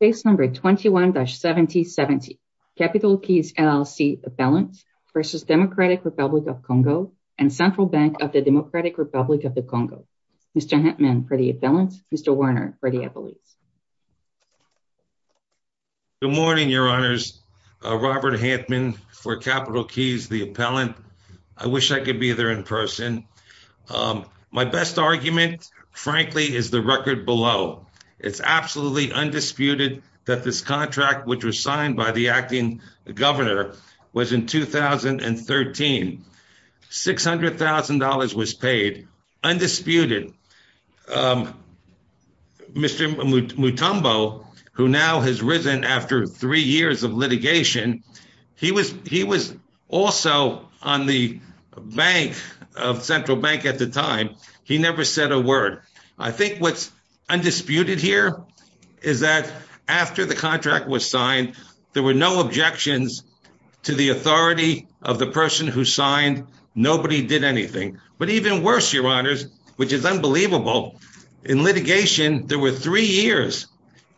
Case number 21-7070, Capital Keys, LLC appellant versus Democratic Republic of Congo and Central Bank of the Democratic Republic of the Congo. Mr. Hantman for the appellant. Mr. Werner for the appellate. Good morning, your honors. Robert Hantman for Capital Keys, the appellant. I wish I could be there in person. My best argument, frankly, is the record below. It's absolutely undisputed that this contract, which was signed by the acting governor, was in 2013. $600,000 was paid. Undisputed. Mr. Mutombo, who now has risen after three years of litigation, he was also on the bank of Central Bank at the time. He never said a word. I think what's undisputed here is that after the contract was signed, there were no objections to the authority of the person who signed. Nobody did anything. But even worse, your honors, which is unbelievable, in litigation, there were three years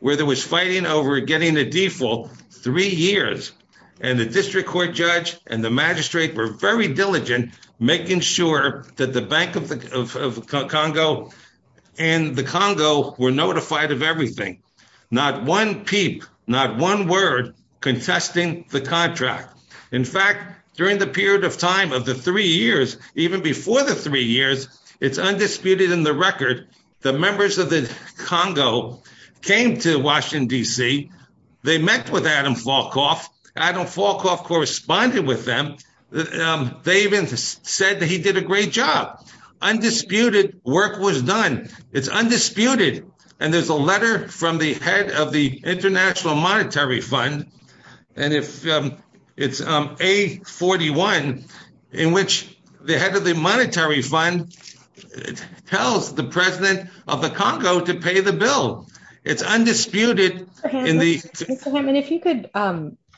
where there was fighting over getting a default. Three years. And the making sure that the Bank of Congo and the Congo were notified of everything. Not one peep, not one word contesting the contract. In fact, during the period of time of the three years, even before the three years, it's undisputed in the record, the members of the Congo came to said that he did a great job. Undisputed work was done. It's undisputed. And there's a letter from the head of the International Monetary Fund. And it's A41, in which the head of the Monetary Fund tells the president of the Congo to pay the bill. It's undisputed. Mr. Hammond,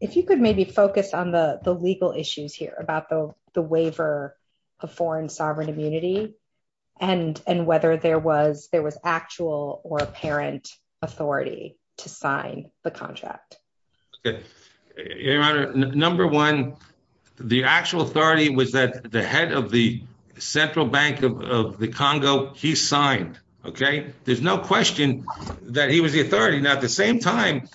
if you could maybe focus on the legal issues here about the waiver of foreign sovereign immunity, and whether there was actual or apparent authority to sign the contract. Your honor, number one, the actual authority was that the head of the Central Bank of the Congo, he signed, okay? There's no question that he was the authority. Now, at the same time,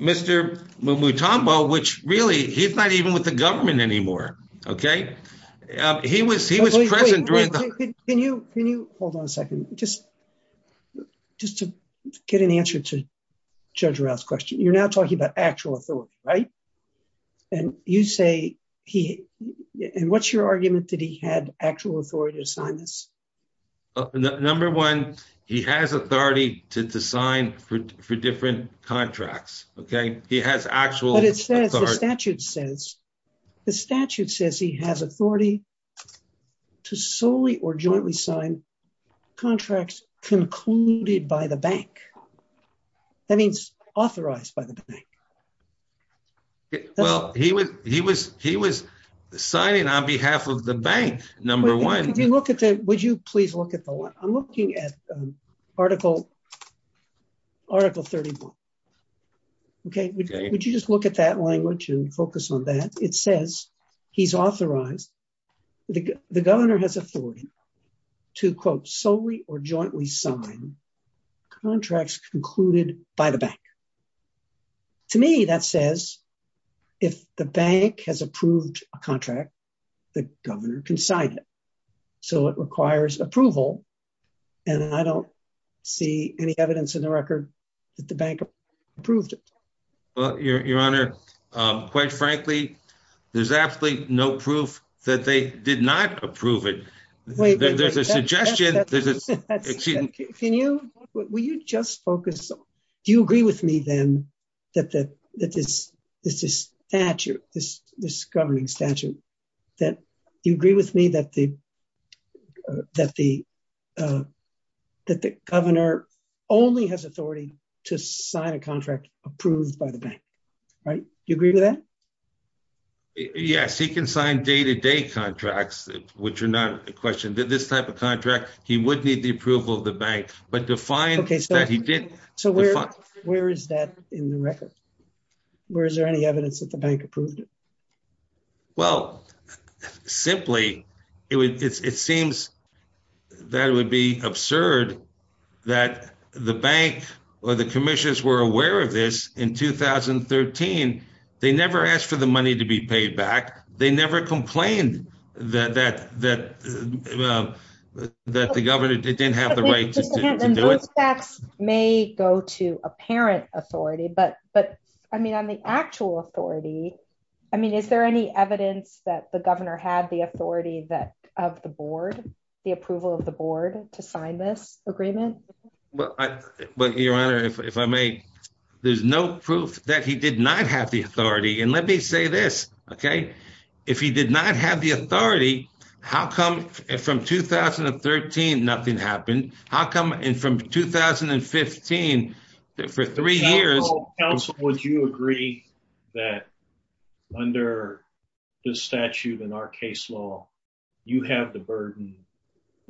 Mr. Mutombo, which really, he's not even with the government anymore, okay? He was present during the- Can you hold on a second? Just to get an answer to Judge Rouse's question. You're now talking about actual authority, right? And what's your argument that he had actual authority to sign this? Number one, he has authority to sign for different contracts, okay? He has actual- But it says, the statute says, the statute says he has authority to solely or jointly sign contracts concluded by the bank. That means authorized by the bank. Well, he was signing on behalf of the bank, number one. Would you please look at the line? I'm looking at article 31, okay? Would you just look at that language and focus on that? It says, he's authorized, the governor has authority to, quote, solely or jointly sign contracts concluded by the bank. To me, that says, if the bank has approved a contract, the governor can sign it. So, it requires approval, and I don't see any evidence in the record that the bank approved it. Well, Your Honor, quite frankly, there's absolutely no proof that they did not approve it. There's a suggestion- Can you, will you just focus? Do you agree with me, then, that this is a statute, this governing statute, that you agree with me that the governor only has authority to sign a contract approved by the bank, right? Do you agree with that? Yes, he can sign day-to-day contracts, which are not a question. This type of contract, he would need the approval of the bank, but to find that he did- So, where is that in the record? Where is there any evidence that the bank approved it? Well, simply, it seems that it would be absurd that the bank or the commissions were aware of in 2013. They never asked for the money to be paid back. They never complained that the governor didn't have the right to do it. Those facts may go to apparent authority, but, I mean, on the actual authority, I mean, is there any evidence that the governor had the authority of the board, the approval of the board, to sign this agreement? Well, Your Honor, if I may, there's no proof that he did not have the authority, and let me say this, okay? If he did not have the authority, how come, from 2013, nothing happened? How come, from 2015, for three years- Counsel, would you agree that, under the statute in our case law, you have the burden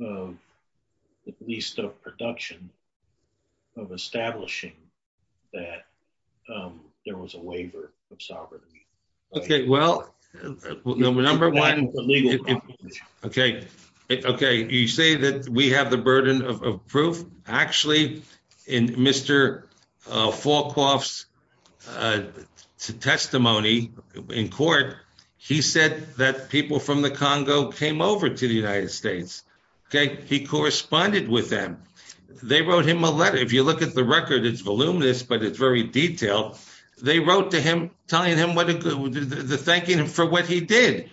of, at least of production, of establishing that there was a waiver of sovereignty? Okay, well, number one, okay, you say that we have the burden of proof. Actually, in Mr. Falcoff's testimony in court, he said that people from the Congo came over to the United States he corresponded with them. They wrote him a letter. If you look at the record, it's voluminous, but it's very detailed. They wrote to him telling him the thanking for what he did,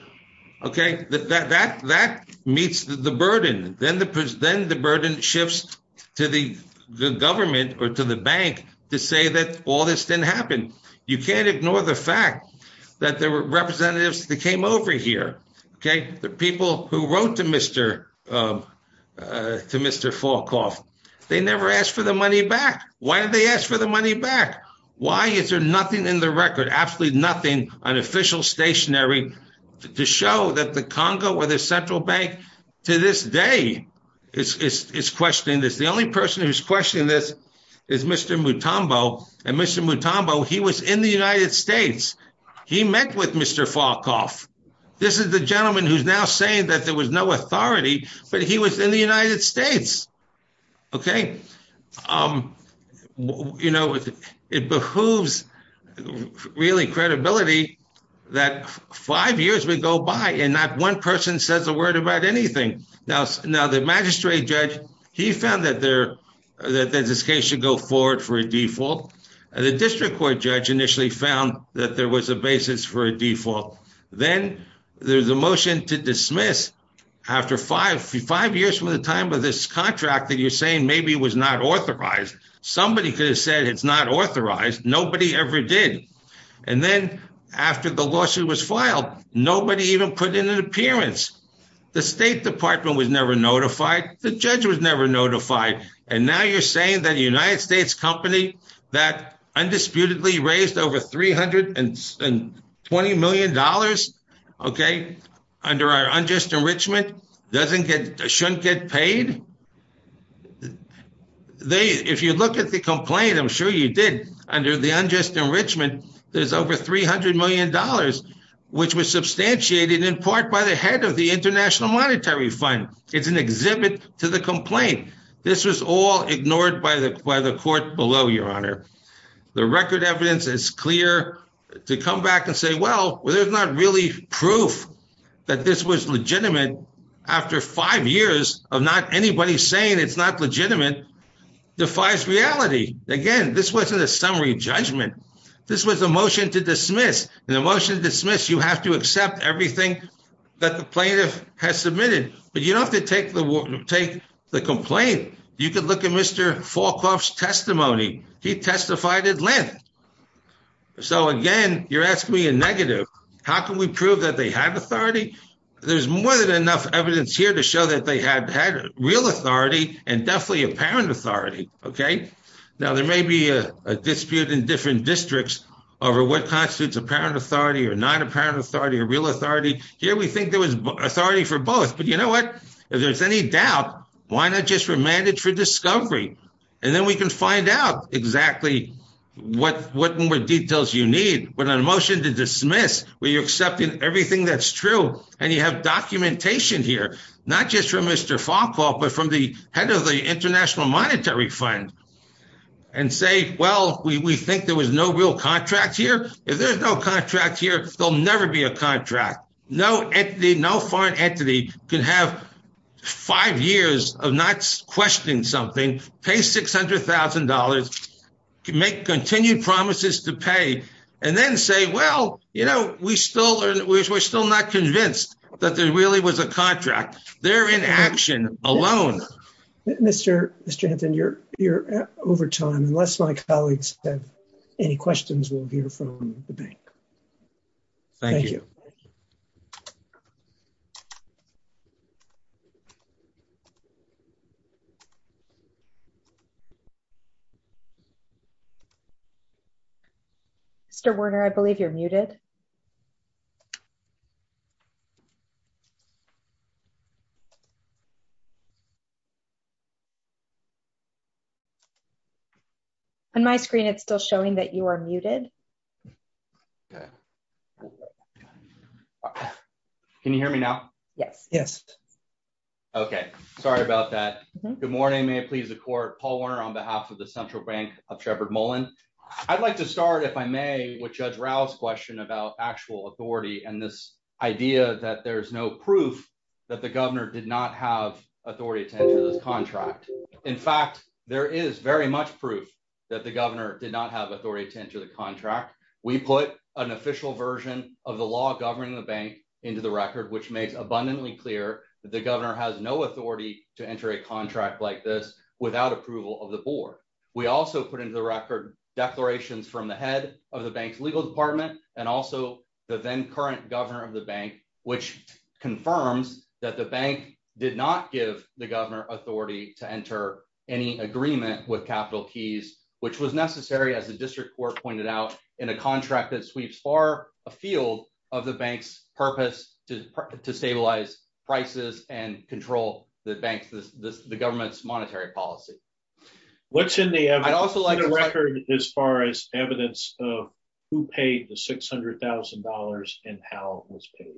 okay? That meets the burden. Then the burden shifts to the government or to the bank to say that all this didn't happen. You can't ignore the fact that there were representatives that over here, okay? The people who wrote to Mr. Falcoff, they never asked for the money back. Why did they ask for the money back? Why is there nothing in the record, absolutely nothing, an official stationary, to show that the Congo or the Central Bank, to this day, is questioning this. The only person who's questioning this is Mr. Mutombo, and Mr. Mutombo, he was in the United States. He met with Mr. Falcoff. This is the gentleman who's now saying that there was no authority, but he was in the United States, okay? It behooves, really, credibility that five years would go by and not one person says a word about anything. Now, the magistrate judge, he found that this case should go forward for a default. The district court judge initially found that there was a basis for a default. Then there's a motion to dismiss after five years from the time of this contract that you're saying maybe was not authorized. Somebody could have said it's not authorized. Nobody ever did. Then after the lawsuit was filed, nobody even put in an appearance. The State Department was never notified. The judge was never notified. Now you're saying that a United States company that undisputedly raised over $320 million under our unjust enrichment shouldn't get paid? If you look at the complaint, I'm sure you did. Under the unjust enrichment, there's over $300 million, which was substantiated in part by the head of the International Monetary Fund. It's an exhibit to the complaint. This was all ignored by the court below, Your Honor. The record evidence is clear to come back and say, well, there's not really proof that this was legitimate after five years of not anybody saying it's not legitimate defies reality. Again, this wasn't a summary judgment. This was a motion to dismiss. In a motion to dismiss, you have to accept everything that the plaintiff has submitted. You don't have to take the complaint. You could look at Mr. Falkoff's testimony. He testified at length. So again, you're asking me a negative. How can we prove that they had authority? There's more than enough evidence here to show that they had real authority and definitely apparent authority. Now there may be a dispute in different districts over what constitutes apparent authority or not apparent authority or real authority. Here we think there was authority for both. But you know what? If there's any doubt, why not just remand it for discovery? And then we can find out exactly what more details you need. But in a motion to dismiss, where you're accepting everything that's true, and you have documentation here, not just from Mr. Falkoff, but from the head of the International Monetary Fund, and say, well, we think there was no real contract here. If there's no contract here, there'll never be a contract. No entity, no foreign entity, can have five years of not questioning something, pay $600,000, can make continued promises to pay, and then say, well, you know, we're still not convinced that there really was a contract. They're in action alone. Mr. Hanson, you're over time. Unless my colleagues have any questions, we'll hear from the bank. Thank you. Mr. Werner, I believe you're muted. On my screen, it's still showing that you are muted. Can you hear me now? Yes. Yes. Okay. Sorry about that. Good morning. May it please the court. Paul Werner on behalf of the Central Bank of Sheppard Mullen. I'd like to start, if I may, with Judge Rao's question about actual authority and this idea that there's no proof that the governor did not have authority to enter this contract. In fact, there is very much proof that the governor did not have authority to enter the contract. We put an official version of the law governing the bank into the record, which makes abundantly clear that the governor has no authority to enter a contract like this without approval of the board. We also put into the record declarations from the head of the bank's legal department and also the then current governor of the bank, which confirms that the bank did not give the governor authority to enter any agreement with capital keys, which was necessary, as the district court pointed out, in a contract that sweeps far afield of the bank's purpose to stabilize prices and control the government's monetary policy. What's in the record as far as evidence of who paid the $600,000 and how it was paid?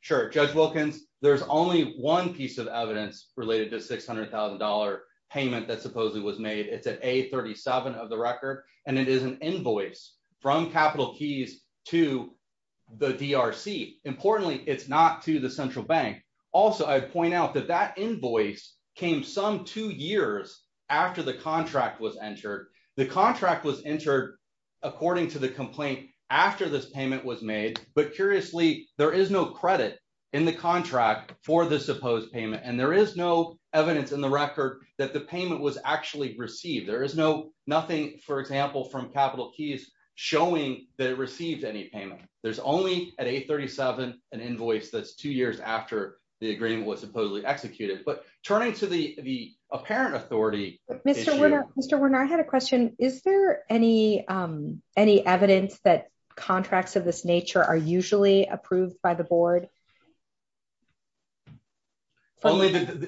Sure. Judge Wilkins, there's only one piece of evidence related to $600,000 payment that supposedly was made. It's at A37 of the record, and it is an invoice from capital keys to the DRC. Importantly, it's not to the central bank. Also, I'd point out that that invoice came some two years after the contract was entered. The contract was entered, according to the complaint, after this payment was made. Curiously, there is no credit in the contract for the supposed payment. There is no evidence in the record that the payment was actually received. There is nothing, for example, from capital keys showing that it received any payment. There's only at A37 an invoice that's two years after the agreement was supposedly executed. Turning to the apparent authority issue. Mr. Werner, I had a question. Is there any evidence that contracts of this nature are usually approved by the board?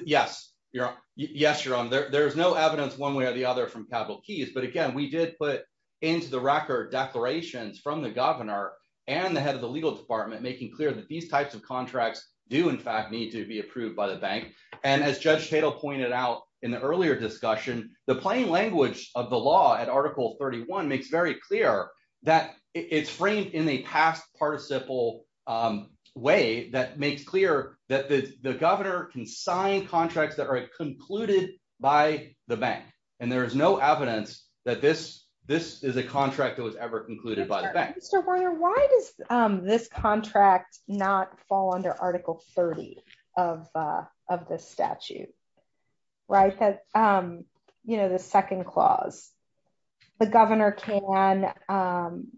Yes, you're on. There's no evidence one way or the other from capital keys. Again, we did put into the record declarations from the governor and the head of the legal department making clear that these types of contracts do, in fact, to be approved by the bank. As Judge Tatel pointed out in the earlier discussion, the plain language of the law at Article 31 makes very clear that it's framed in a past participle way that makes clear that the governor can sign contracts that are concluded by the bank. There is no evidence that this is a contract that was ever concluded by the bank. Mr. Werner, why does this contract not fall under Article 30 of the statute? The second clause, the governor can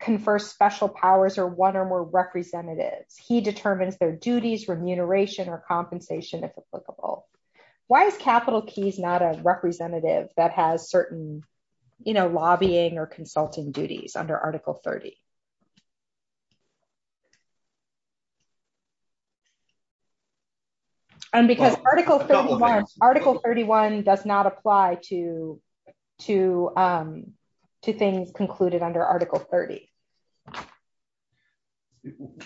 confer special powers or one or more representatives. He determines their duties, remuneration or compensation, if applicable. Why is capital keys not a representative that has you know, lobbying or consulting duties under Article 30? And because Article 31 does not apply to things concluded under Article 30.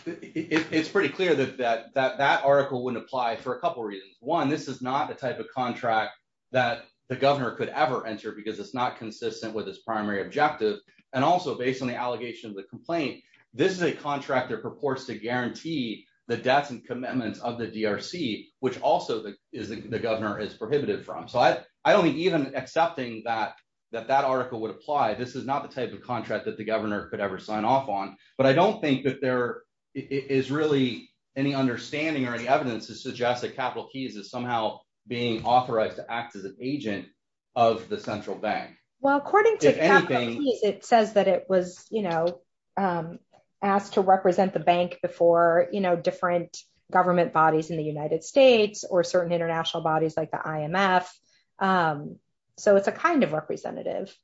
It's pretty clear that that article wouldn't apply for a couple reasons. One, this is not a contract that the governor could ever enter because it's not consistent with his primary objective. And also, based on the allegation of the complaint, this is a contract that purports to guarantee the debts and commitments of the DRC, which also the governor is prohibited from. So I don't think even accepting that article would apply. This is not the type of contract that the governor could ever sign off on. But I don't think that there is really any understanding or any evidence to suggest that capital keys is somehow being authorized to act as an agent of the central bank. Well, according to anything, it says that it was, you know, asked to represent the bank before, you know, different government bodies in the United States or certain international bodies like the IMF. So it's a kind of representative.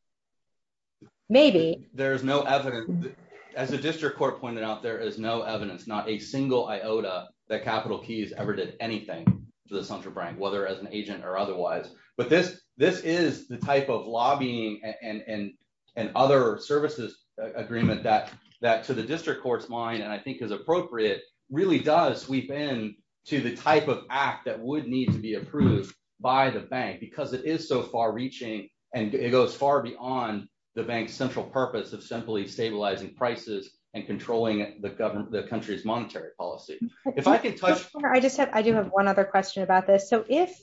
Maybe there's no evidence. As the district court pointed out, there is no evidence, not a single iota that capital keys ever did anything to the central bank, whether as an agent or otherwise. But this this is the type of lobbying and other services agreement that that to the district court's mind, and I think is appropriate, really does sweep in to the type of act that would need to be approved by the bank because it is so far reaching and it goes far beyond the bank's central purpose of simply stabilizing prices and controlling the government, the country's monetary policy. If I could touch. I just said I do have one other question about this. So if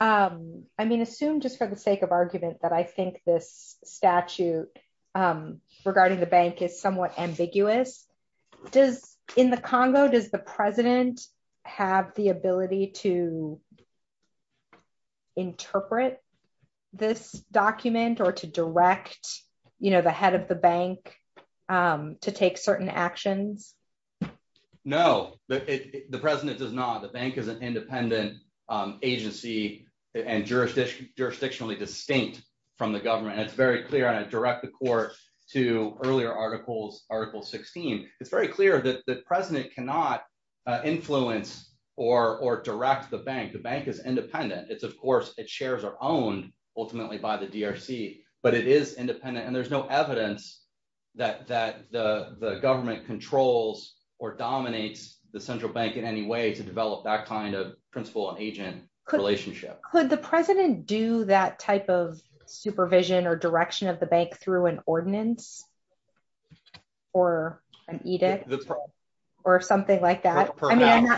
I mean, assume just for the sake of argument that I think this statute regarding the bank is somewhat ambiguous, does in the Congo, does the president have the ability to interpret this document or to direct, you know, the head of the bank to take certain actions? No, the president does not. The bank is an independent agency and jurisdiction jurisdictionally distinct from the government. It's very clear. I direct the court to earlier articles. Article 16. It's very clear that the president cannot influence or direct the bank. The bank is independent. It's of course, its shares are owned ultimately by the DRC, but it is independent. And there's no evidence that the government controls or dominates the central bank in any way to develop that kind of principal and agent relationship. Could the president do that type of supervision or direction of the bank through an ordinance or an edict or something like that? I mean,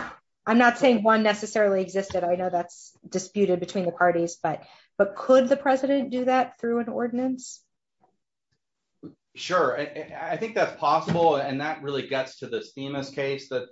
I'm not saying one necessarily existed. I know that's disputed between the parties, but could the president do that through an ordinance? Sure. I think that's possible. And that really gets to this Themis case that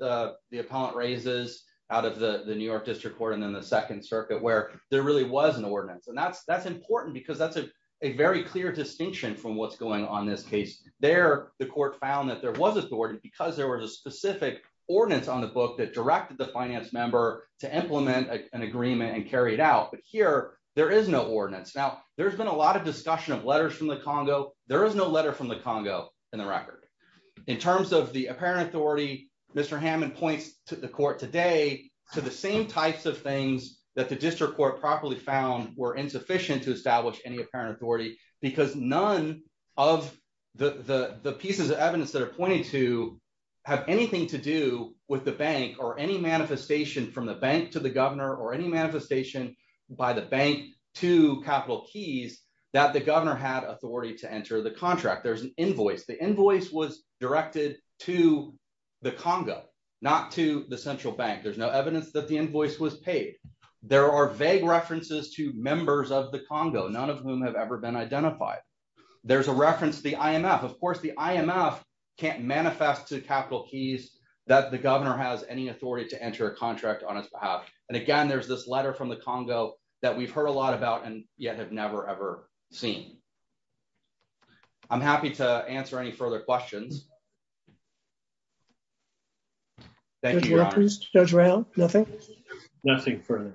the appellant raises out of the New York district court, and then the second circuit where there really was an ordinance. And that's, that's important because that's a very clear distinction from what's going on in this case. There, the court found that there was an ordinance because there was a specific ordinance on the book that directed the finance member to implement an agreement and carry it out. But here there is no ordinance. Now, there's been a lot of discussion of letters from the Congo. There is no letter from the Congo in the record. In terms of the apparent authority, Mr. Hammond points to the court today to the same types of things that the district court properly found were insufficient to establish any apparent authority because none of the pieces of evidence that are pointed to have anything to do with the from the bank to the governor or any manifestation by the bank to capital keys that the governor had authority to enter the contract. There's an invoice. The invoice was directed to the Congo, not to the central bank. There's no evidence that the invoice was paid. There are vague references to members of the Congo, none of whom have ever been identified. There's a reference to the IMF. Of course, the IMF can't manifest to capital keys that the governor has any authority to enter a contract on his behalf. And again, there's this letter from the Congo that we've heard a lot about and yet have never, ever seen. I'm happy to answer any further questions. Thank you, Judge Rao. Nothing? Nothing further.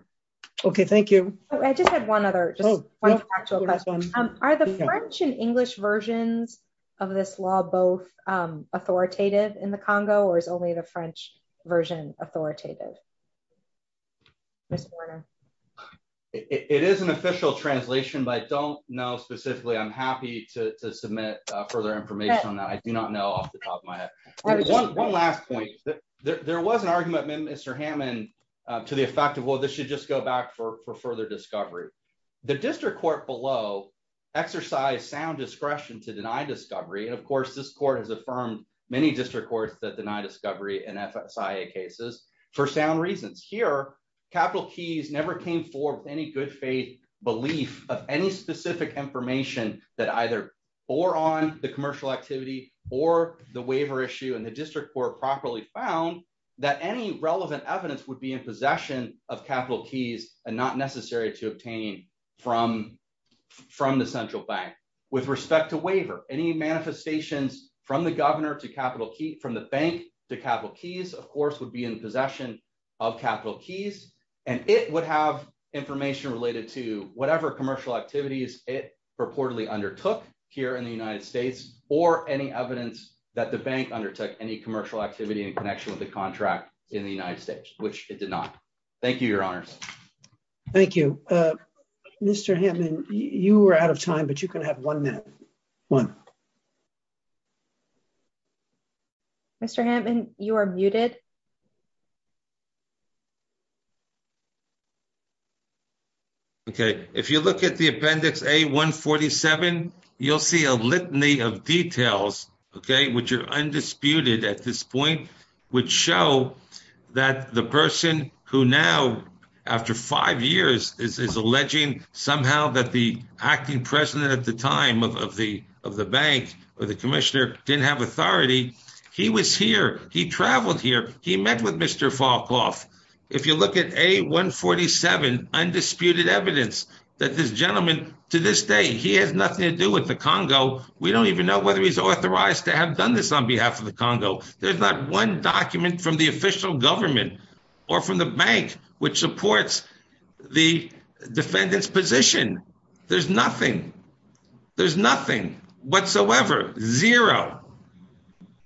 Okay, thank you. I just had one other. Are the French and English versions of this law both authoritative in the Congo or is only the French version authoritative? It is an official translation, but I don't know specifically. I'm happy to submit further information on that. I do not know off the top of my head. One last point, there was an argument, Mr. Hammond, to the effect of, well, this should just go back for further discovery. The district court below exercised sound discretion to deny discovery. And of course, this court has affirmed many district courts that deny discovery in FSIA cases for sound reasons. Here, capital keys never came forward with any good faith belief of any specific information that either bore on the commercial activity or the waiver issue. And the district court properly found that any relevant evidence would be in possession of capital keys and not necessary to obtain from the central bank. With respect to waiver, any manifestations from the bank to capital keys, of course, would be in possession of capital keys. And it would have information related to whatever commercial activities it purportedly undertook here in the United States or any evidence that the bank undertook any commercial activity in connection with the contract in the United States, which it did not. Thank you, your honors. Thank you. Mr. Hammond, you are out of time, but you can have one minute. Mr. Hammond, you are muted. Okay. If you look at the appendix A-147, you'll see a litany of details, okay, which are undisputed at this point, which show that the person who now, after five years, is alleging somehow that the acting president at the time of the bank or the commissioner didn't have authority, he was here. He traveled here. He met with Mr. Falkhoff. If you look at A-147, undisputed evidence that this gentleman, to this day, he has nothing to do with the Congo. We don't even know whether he's authorized to have done this on behalf of the Congo. There's not one document from the official government or from the bank which supports the defendant's position. There's nothing. There's nothing whatsoever. Zero.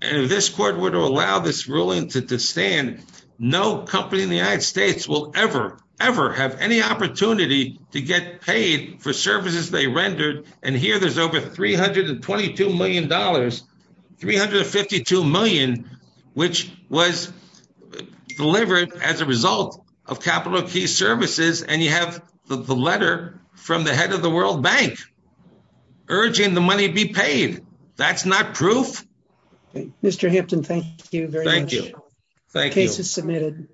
If this court were to allow this ruling to stand, no company in the United States will ever, ever have any opportunity to get paid for services they rendered. Here, there's over $322 million, $352 million, which was delivered as a result of capital of key services, and you have the letter from the head of the World Bank urging the money be paid. That's not proof. Mr. Hampton, thank you very much. Thank you. Thank you. Case is submitted.